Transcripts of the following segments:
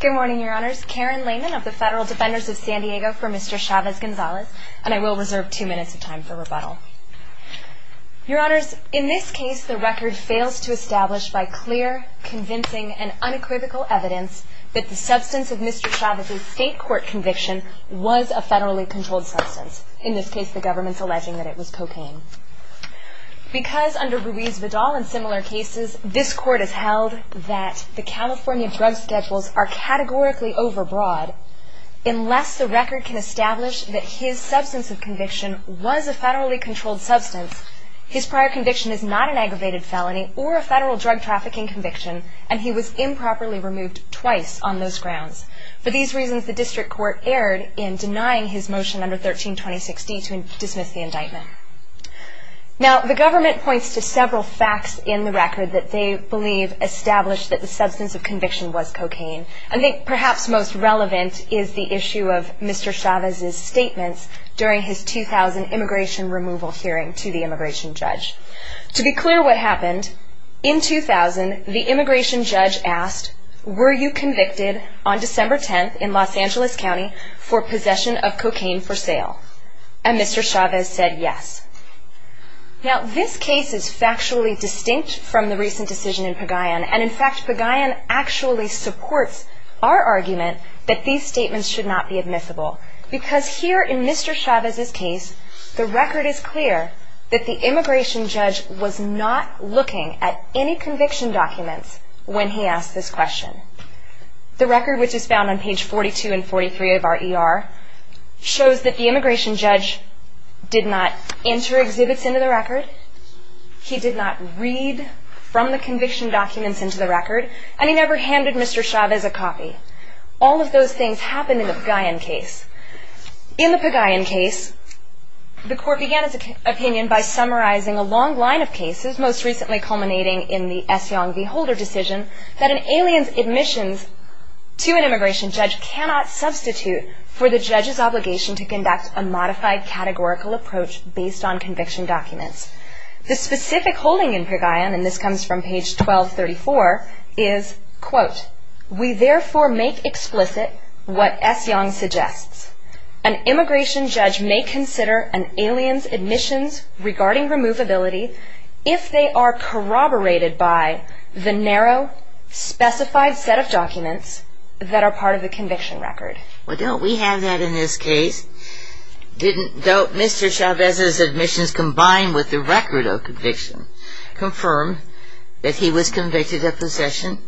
Good morning, your honors. Karen Lehman of the Federal Defenders of San Diego for Mr. Chavez-Gonzalez. And I will reserve two minutes of time for rebuttal. Your honors, in this case, the record fails to establish by clear, convincing, and unequivocal evidence that the substance of Mr. Chavez's state court conviction was a federally controlled substance. In this case, the government's alleging that it was cocaine. Because under Ruiz-Vidal and similar cases, this court has held that the California drug schedules are categorically overbroad, unless the record can establish that his substance of conviction was a federally controlled substance, his prior conviction is not an aggravated felony or a federal drug trafficking conviction, and he was improperly removed twice on those grounds. For these reasons, the district court erred in denying his motion under 132060 to dismiss the indictment. Now, the government points to several facts in the record that they believe established that the substance of conviction was cocaine. I think perhaps most relevant is the issue of Mr. Chavez's statements during his 2000 immigration removal hearing to the immigration judge. To be clear what happened, in 2000, the immigration judge asked, were you convicted on December 10th in Los Angeles County for possession of cocaine for sale? And Mr. Chavez said yes. Now, this case is factually distinct from the recent decision in Pagayan, and in fact, Pagayan actually supports our argument that these statements should not be admissible. Because here in Mr. Chavez's case, the record is clear that the immigration judge was not looking at any conviction documents when he asked this question. The record, which is found on page 42 and 43 of our ER, shows that the immigration judge did not enter exhibits into the record, he did not read from the conviction documents into the record, and he never handed Mr. Chavez a copy. All of those things happened in the Pagayan case. In the Pagayan case, the court began its opinion by summarizing a long line of cases, most recently culminating in the S. Yong v. Holder decision, that an alien's admissions to an immigration judge cannot substitute for the judge's obligation to conduct a modified categorical approach based on conviction documents. The specific holding in Pagayan, and this comes from page 1234, is, quote, we therefore make explicit what S. Yong suggests. An immigration judge may consider an alien's admissions regarding removability if they are corroborated by the narrow, specified set of documents that are part of the conviction record. Well, don't we have that in this case? Didn't Mr. Chavez's admissions, combined with the record of conviction, confirm that he was convicted of possession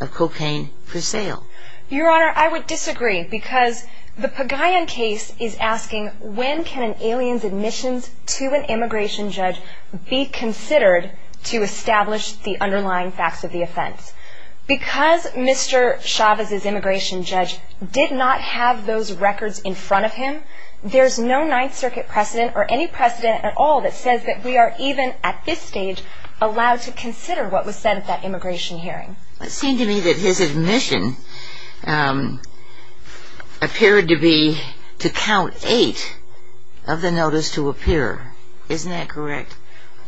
of cocaine for sale? Your Honor, I would disagree, because the Pagayan case is asking, when can an alien's admissions to an immigration judge be considered to establish the underlying facts of the offense? Because Mr. Chavez's immigration judge did not have those records in front of him, there's no Ninth Circuit precedent, or any precedent at all, that says that we are even, at this stage, allowed to consider what was said at that immigration hearing. It seemed to me that his admission appeared to be to count eight of the notice to appear. Isn't that correct?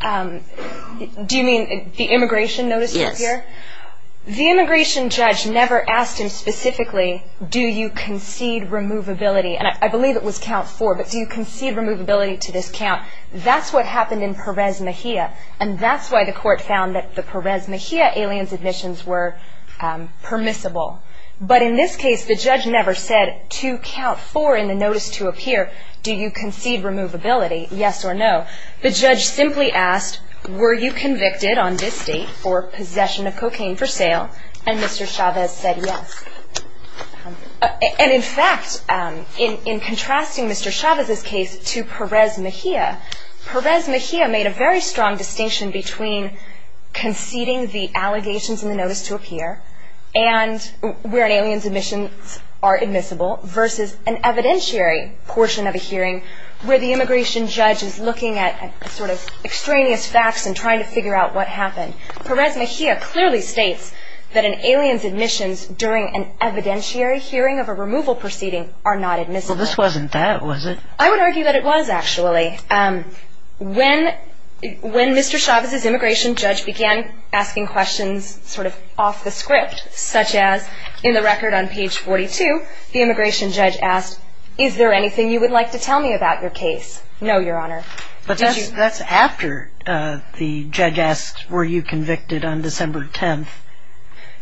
Do you mean the immigration notice to appear? Yes. The immigration judge never asked him specifically, do you concede removability? And I believe it was count four, but do you concede removability to this count? That's what happened in Perez Mejia, and that's why the court found that the Perez Mejia alien's admissions were permissible. But in this case, the judge never said, to count four in the notice to appear, do you concede removability, yes or no? The judge simply asked, were you convicted on this date for possession of cocaine for sale? And Mr. Chavez said yes. And in fact, in contrasting Mr. Chavez's case to Perez Mejia, Perez Mejia made a very strong distinction between conceding the allegations in the notice to appear and where an alien's admissions are admissible, versus an evidentiary portion of a hearing where the immigration judge is looking at sort of extraneous facts and trying to figure out what happened. Perez Mejia clearly states that an alien's admissions during an evidentiary hearing of a removal proceeding are not admissible. Well, this wasn't that, was it? I would argue that it was, actually. When Mr. Chavez's immigration judge began asking questions sort of off the script, such as in the record on page 42, the immigration judge asked, is there anything you would like to tell me about your case? No, Your Honor. But that's after the judge asked, were you convicted on December 10th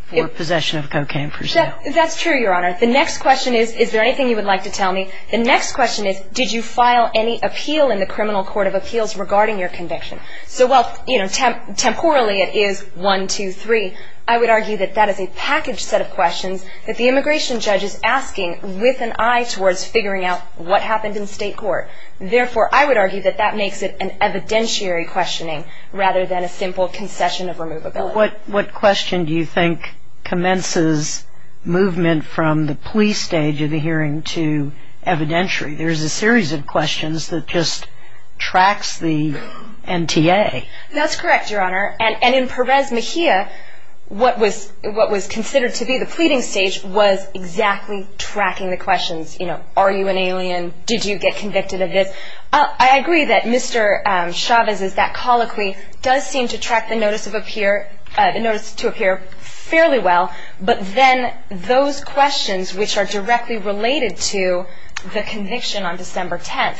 for possession of cocaine for sale? That's true, Your Honor. The next question is, is there anything you would like to tell me? The next question is, did you file any appeal in the Criminal Court of Appeals regarding your conviction? So while, you know, temporally it is one, two, three, I would argue that that is a package set of questions that the immigration judge is asking with an eye towards figuring out what happened in state court. Therefore, I would argue that that makes it an evidentiary questioning rather than a simple concession of removability. What question do you think commences movement from the plea stage of the hearing to evidentiary? There's a series of questions that just tracks the NTA. That's correct, Your Honor. And in Perez Mejia, what was considered to be the pleading stage was exactly tracking the questions. You know, are you an alien? Did you get convicted of this? I agree that Mr. Chavez's, that colloquy does seem to track the notice to appear fairly well, but then those questions which are directly related to the conviction on December 10th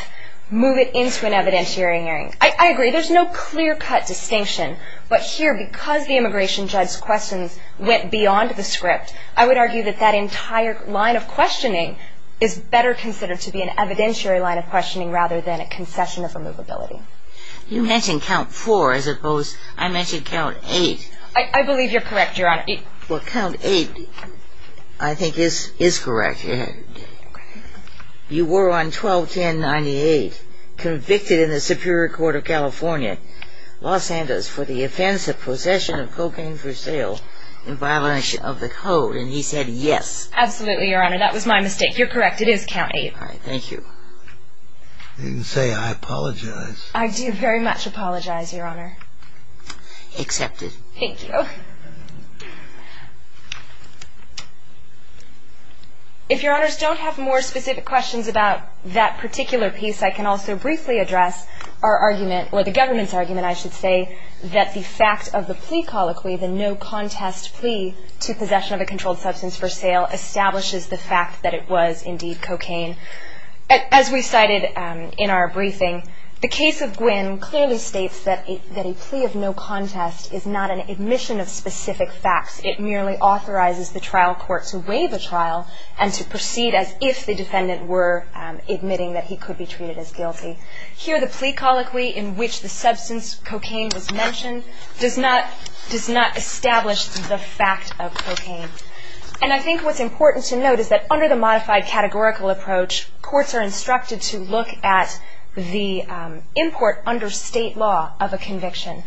move it into an evidentiary hearing. I agree. There's no clear-cut distinction. But here, because the immigration judge's questions went beyond the script, I would argue that that entire line of questioning is better considered to be an evidentiary line of questioning rather than a concession of removability. You mentioned count four as opposed, I mentioned count eight. I believe you're correct, Your Honor. Well, count eight I think is correct. You were on 12-10-98, convicted in the Superior Court of California, Los Angeles, for the offense of possession of cocaine for sale in violation of the code, and he said yes. Absolutely, Your Honor. That was my mistake. If you're correct, it is count eight. All right. Thank you. You can say I apologize. I do very much apologize, Your Honor. Accepted. Thank you. If Your Honors don't have more specific questions about that particular piece, I can also briefly address our argument, or the government's argument, I should say, that the fact of the plea colloquy, the no-contest plea to possession of a controlled substance for sale, establishes the fact that it was indeed cocaine. As we cited in our briefing, the case of Gwynn clearly states that a plea of no contest is not an admission of specific facts. It merely authorizes the trial court to weigh the trial and to proceed as if the defendant were admitting that he could be treated as guilty. Here, the plea colloquy in which the substance cocaine was mentioned does not establish the fact of cocaine. And I think what's important to note is that under the modified categorical approach, courts are instructed to look at the import under state law of a conviction.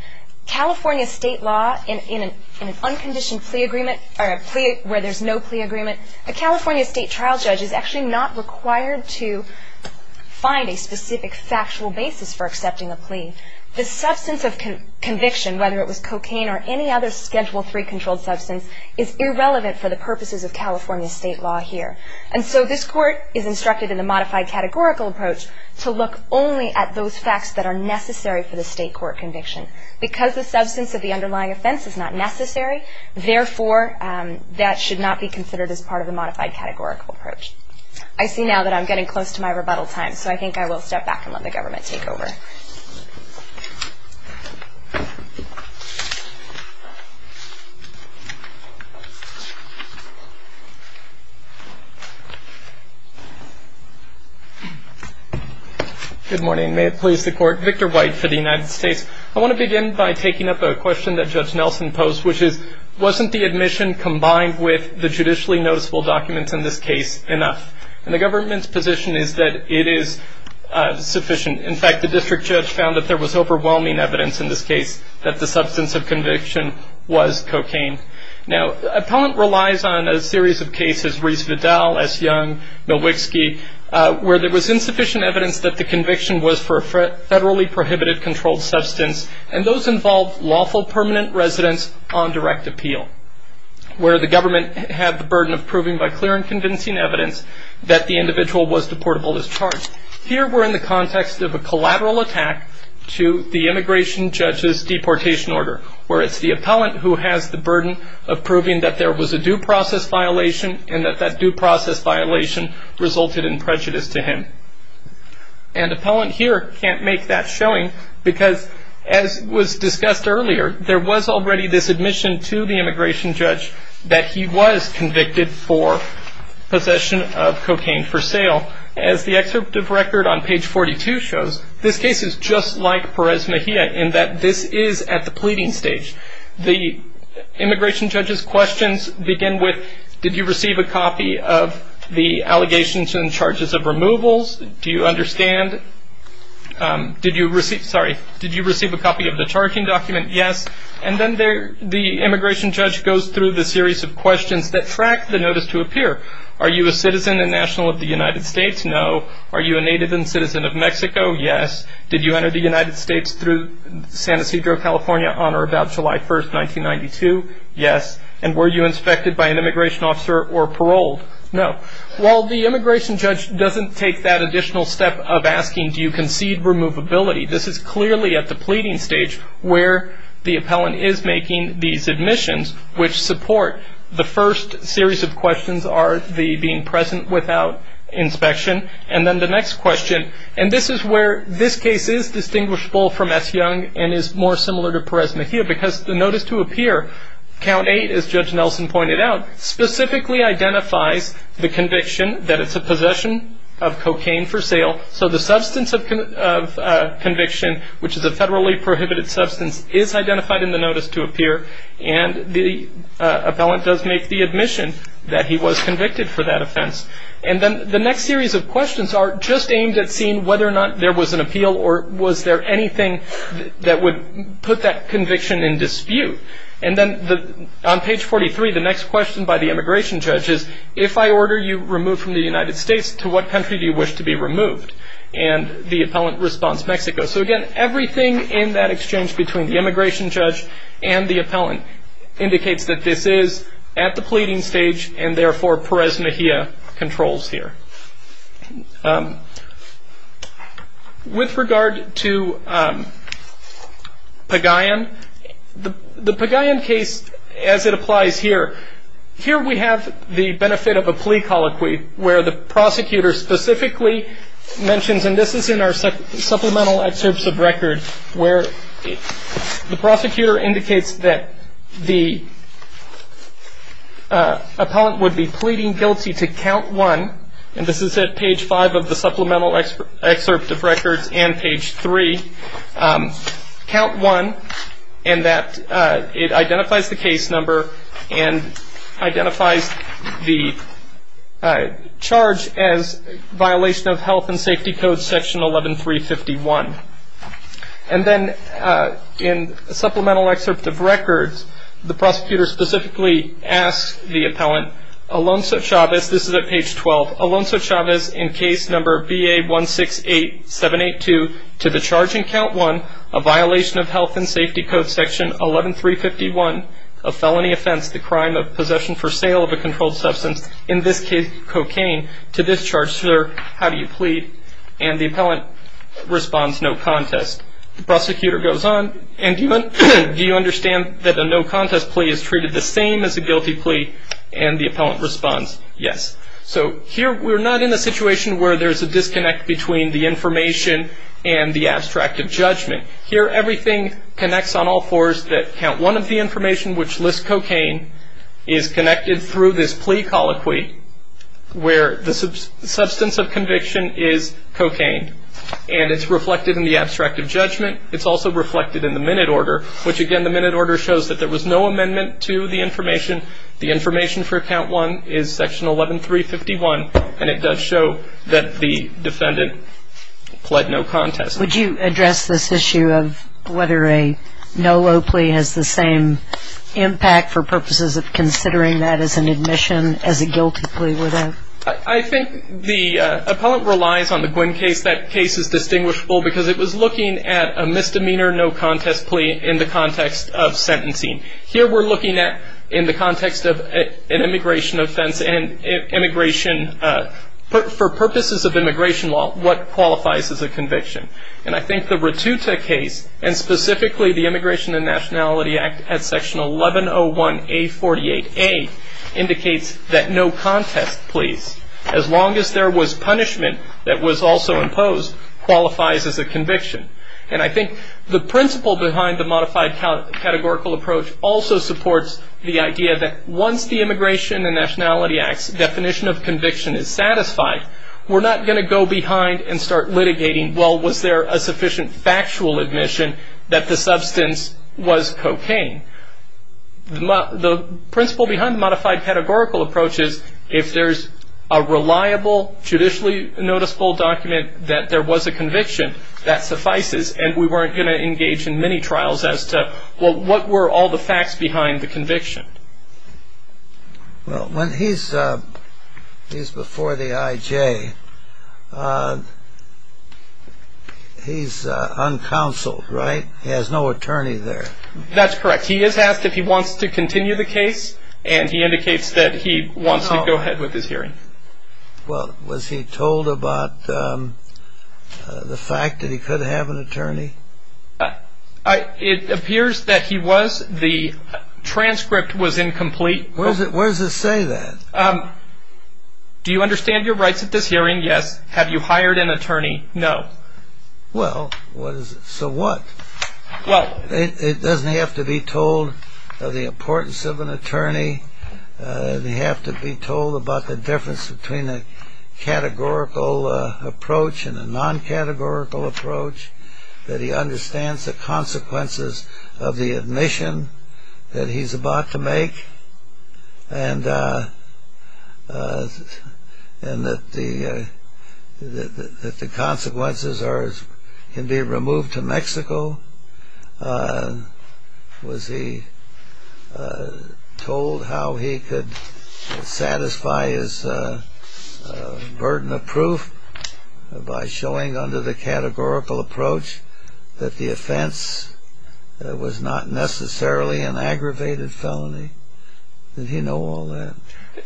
California state law, in an unconditioned plea agreement, or a plea where there's no plea agreement, a California state trial judge is actually not required to find a specific factual basis for accepting a plea. The substance of conviction, whether it was cocaine or any other Schedule III controlled substance, is irrelevant for the purposes of California state law here. And so this court is instructed in the modified categorical approach to look only at those facts that are necessary for the state court conviction. Because the substance of the underlying offense is not necessary, therefore that should not be considered as part of the modified categorical approach. I see now that I'm getting close to my rebuttal time, so I think I will step back and let the government take over. Good morning. May it please the Court. Victor White for the United States. I want to begin by taking up a question that Judge Nelson posed, which is, wasn't the admission combined with the judicially noticeable documents in this case enough? And the government's position is that it is sufficient. In fact, the district judge found that there was overwhelming evidence in this case that the substance of conviction was cocaine. Now, appellant relies on a series of cases, Rees-Vidal, S. Young, Nowicki, where there was insufficient evidence that the conviction was for a federally prohibited controlled substance, and those involved lawful permanent residence on direct appeal, where the government had the burden of proving by clear and convincing evidence that the individual was deportable as charged. Here we're in the context of a collateral attack to the immigration judge's deportation order, where it's the appellant who has the burden of proving that there was a due process violation and that that due process violation resulted in prejudice to him. And appellant here can't make that showing because, as was discussed earlier, there was already this admission to the immigration judge that he was convicted for possession of cocaine for sale. As the excerpt of record on page 42 shows, this case is just like Perez-Mejia in that this is at the pleading stage. The immigration judge's questions begin with, did you receive a copy of the allegations and charges of removals? Do you understand? Did you receive a copy of the charging document? Yes. And then the immigration judge goes through the series of questions that track the notice to appear. Are you a citizen and national of the United States? No. Are you a native and citizen of Mexico? Yes. Did you enter the United States through San Ysidro, California, on or about July 1, 1992? Yes. And were you inspected by an immigration officer or paroled? No. While the immigration judge doesn't take that additional step of asking, do you concede removability, this is clearly at the pleading stage where the appellant is making these admissions, which support the first series of questions, are the being present without inspection, and then the next question. And this is where this case is distinguishable from S. Young and is more similar to Perez-Mejia because the notice to appear, Count 8, as Judge Nelson pointed out, specifically identifies the conviction that it's a possession of cocaine for sale, so the substance of conviction, which is a federally prohibited substance, is identified in the notice to appear, and the appellant does make the admission that he was convicted for that offense. And then the next series of questions are just aimed at seeing whether or not there was an appeal or was there anything that would put that conviction in dispute. And then on page 43, the next question by the immigration judge is, if I order you removed from the United States, to what country do you wish to be removed? And the appellant responds, Mexico. So, again, everything in that exchange between the immigration judge and the appellant indicates that this is at the pleading stage and, therefore, Perez-Mejia controls here. With regard to Pagayan, the Pagayan case, as it applies here, here we have the benefit of a plea colloquy where the prosecutor specifically mentions, and this is in our supplemental excerpts of record, where the prosecutor indicates that the appellant would be pleading guilty to count one, and this is at page five of the supplemental excerpt of records and page three, count one, and that it identifies the case number and identifies the charge as violation of health and safety code section 11351. And then in a supplemental excerpt of records, the prosecutor specifically asks the appellant, Alonso Chavez, this is at page 12, Alonso Chavez, in case number BA168782, to the charge in count one, a violation of health and safety code section 11351, a felony offense, the crime of possession for sale of a controlled substance, in this case cocaine, to this charge, sir, how do you plead? And the appellant responds, no contest. The prosecutor goes on, and do you understand that a no contest plea is treated the same as a guilty plea? And the appellant responds, yes. So here we're not in a situation where there's a disconnect between the information and the abstract of judgment. Here everything connects on all fours that count one of the information, which lists cocaine, is connected through this plea colloquy where the substance of conviction is cocaine, and it's reflected in the abstract of judgment. It's also reflected in the minute order, which, again, the minute order shows that there was no amendment to the information. The information for count one is section 11351, and it does show that the defendant pled no contest. Would you address this issue of whether a no low plea has the same impact, for purposes of considering that as an admission, as a guilty plea would have? I think the appellant relies on the Gwinn case. That case is distinguishable because it was looking at a misdemeanor no contest plea in the context of sentencing. Here we're looking at, in the context of an immigration offense and immigration, for purposes of immigration law, what qualifies as a conviction. And I think the Ratuta case, and specifically the Immigration and Nationality Act at section 1101A48A, indicates that no contest pleas, as long as there was punishment that was also imposed, qualifies as a conviction. And I think the principle behind the modified categorical approach also supports the idea that, once the Immigration and Nationality Act's definition of conviction is satisfied, we're not going to go behind and start litigating, well, was there a sufficient factual admission that the substance was cocaine? The principle behind the modified categorical approach is, if there's a reliable, judicially noticeable document that there was a conviction, that suffices, and we weren't going to engage in many trials as to, well, what were all the facts behind the conviction? Well, when he's before the IJ, he's uncounseled, right? He has no attorney there. That's correct. He is asked if he wants to continue the case, and he indicates that he wants to go ahead with this hearing. Well, was he told about the fact that he could have an attorney? It appears that he was. The transcript was incomplete. Where does it say that? Do you understand your rights at this hearing? Yes. Have you hired an attorney? No. Well, so what? It doesn't have to be told of the importance of an attorney. They have to be told about the difference between a categorical approach and a non-categorical approach, that he understands the consequences of the admission that he's about to make, and that the consequences can be removed to Mexico. Was he told how he could satisfy his burden of proof by showing under the categorical approach that the offense was not necessarily an aggravated felony? Did he know all that?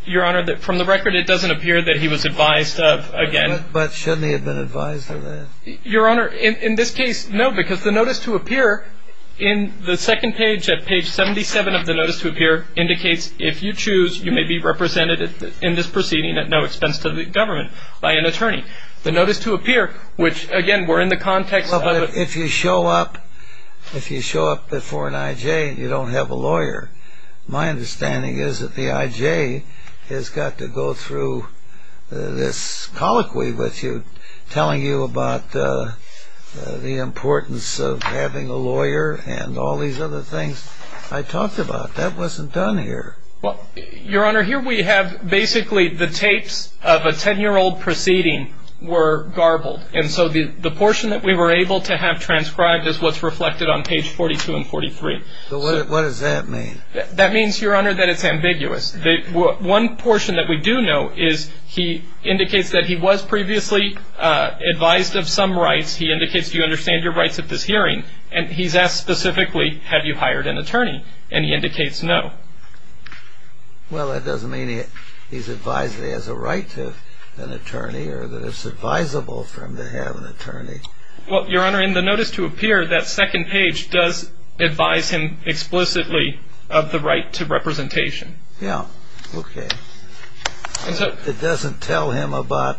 Your Honor, from the record, it doesn't appear that he was advised of, again. But shouldn't he have been advised of that? Your Honor, in this case, no, because the notice to appear in the second page at page 77 of the notice to appear indicates if you choose, you may be represented in this proceeding at no expense to the government by an attorney. The notice to appear, which, again, we're in the context of a ---- My understanding is that the I.J. has got to go through this colloquy with you, telling you about the importance of having a lawyer and all these other things I talked about. That wasn't done here. Your Honor, here we have basically the tapes of a 10-year-old proceeding were garbled. And so the portion that we were able to have transcribed is what's reflected on page 42 and 43. What does that mean? That means, Your Honor, that it's ambiguous. One portion that we do know is he indicates that he was previously advised of some rights. He indicates you understand your rights at this hearing. And he's asked specifically, have you hired an attorney? And he indicates no. Well, that doesn't mean he's advised that he has a right to an attorney or that it's advisable for him to have an attorney. Well, Your Honor, in the notice to appear, that second page does advise him explicitly of the right to representation. Yeah. Okay. It doesn't tell him about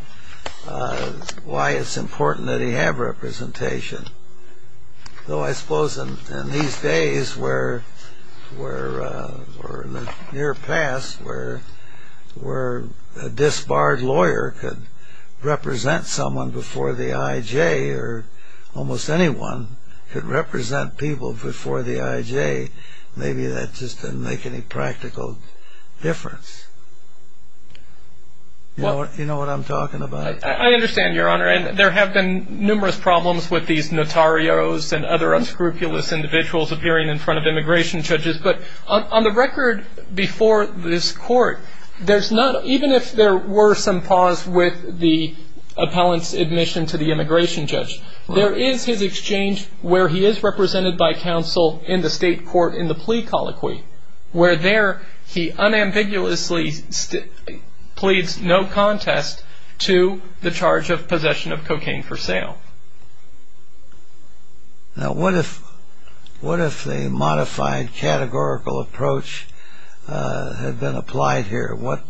why it's important that he have representation. Though I suppose in these days where, or in the near past, where a disbarred lawyer could represent someone before the I.J. or almost anyone could represent people before the I.J., maybe that just didn't make any practical difference. You know what I'm talking about? I understand, Your Honor. And there have been numerous problems with these notarios and other unscrupulous individuals appearing in front of immigration judges. But on the record before this court, there's not, even if there were some pause with the appellant's admission to the immigration judge, there is his exchange where he is represented by counsel in the state court in the plea colloquy, where there he unambiguously pleads no contest to the charge of possession of cocaine for sale. Now, what if the modified categorical approach had been applied here? What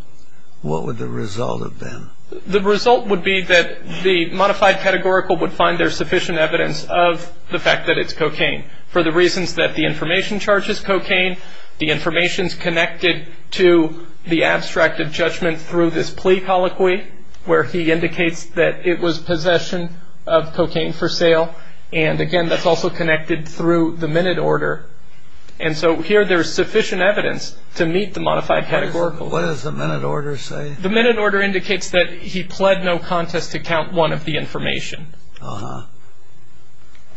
would the result have been? The result would be that the modified categorical would find there sufficient evidence of the fact that it's cocaine for the reasons that the information charges cocaine, the information's connected to the abstract of judgment through this plea colloquy, where he indicates that it was possession of cocaine for sale. And, again, that's also connected through the minute order. And so here there is sufficient evidence to meet the modified categorical. What does the minute order say? The minute order indicates that he pled no contest to count one of the information. Uh-huh.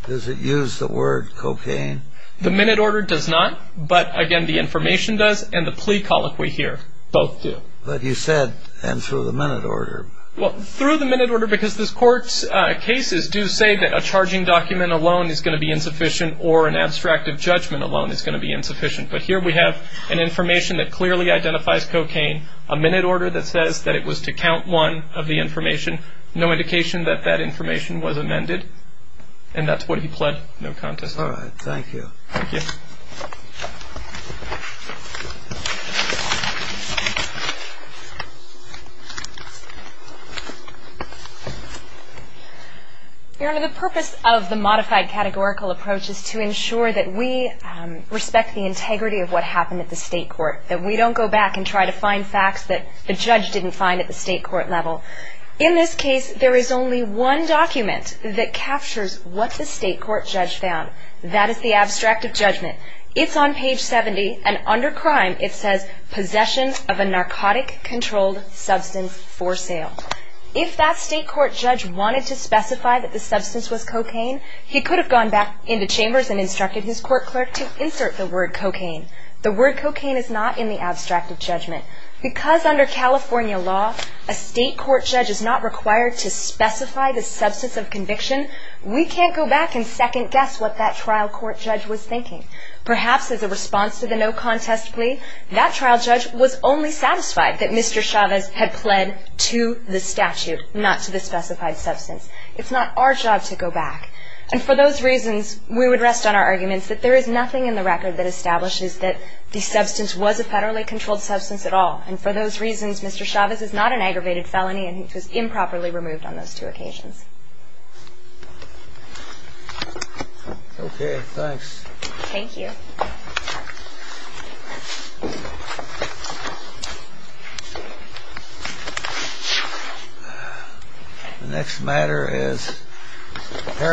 Does it use the word cocaine? The minute order does not. But, again, the information does and the plea colloquy here both do. But you said and through the minute order. Well, through the minute order, because this court's cases do say that a charging document alone is going to be insufficient or an abstract of judgment alone is going to be insufficient. But here we have an information that clearly identifies cocaine, a minute order that says that it was to count one of the information, no indication that that information was amended, and that's what he pled no contest to. All right. Thank you. Thank you. Your Honor, the purpose of the modified categorical approach is to ensure that we respect the integrity of what happened at the state court, that we don't go back and try to find facts that the judge didn't find at the state court level. In this case, there is only one document that captures what the state court judge found. That is the abstract of judgment. It's on page 70, and under crime it says, possession of a narcotic-controlled substance for sale. If that state court judge wanted to specify that the substance was cocaine, he could have gone back into chambers and instructed his court clerk to insert the word cocaine. The word cocaine is not in the abstract of judgment. Because under California law, a state court judge is not required to specify the substance of conviction, we can't go back and second guess what that trial court judge was thinking. Perhaps as a response to the no contest plea, that trial judge was only satisfied that Mr. Chavez had pled to the statute, not to the specified substance. It's not our job to go back. And for those reasons, we would rest on our arguments that there is nothing in the record that establishes that the substance was a And for those reasons, Mr. Chavez is not an aggravated felony, and he was improperly removed on those two occasions. Okay, thanks. Thank you. Thank you. Thank you. Thank you. Thank you.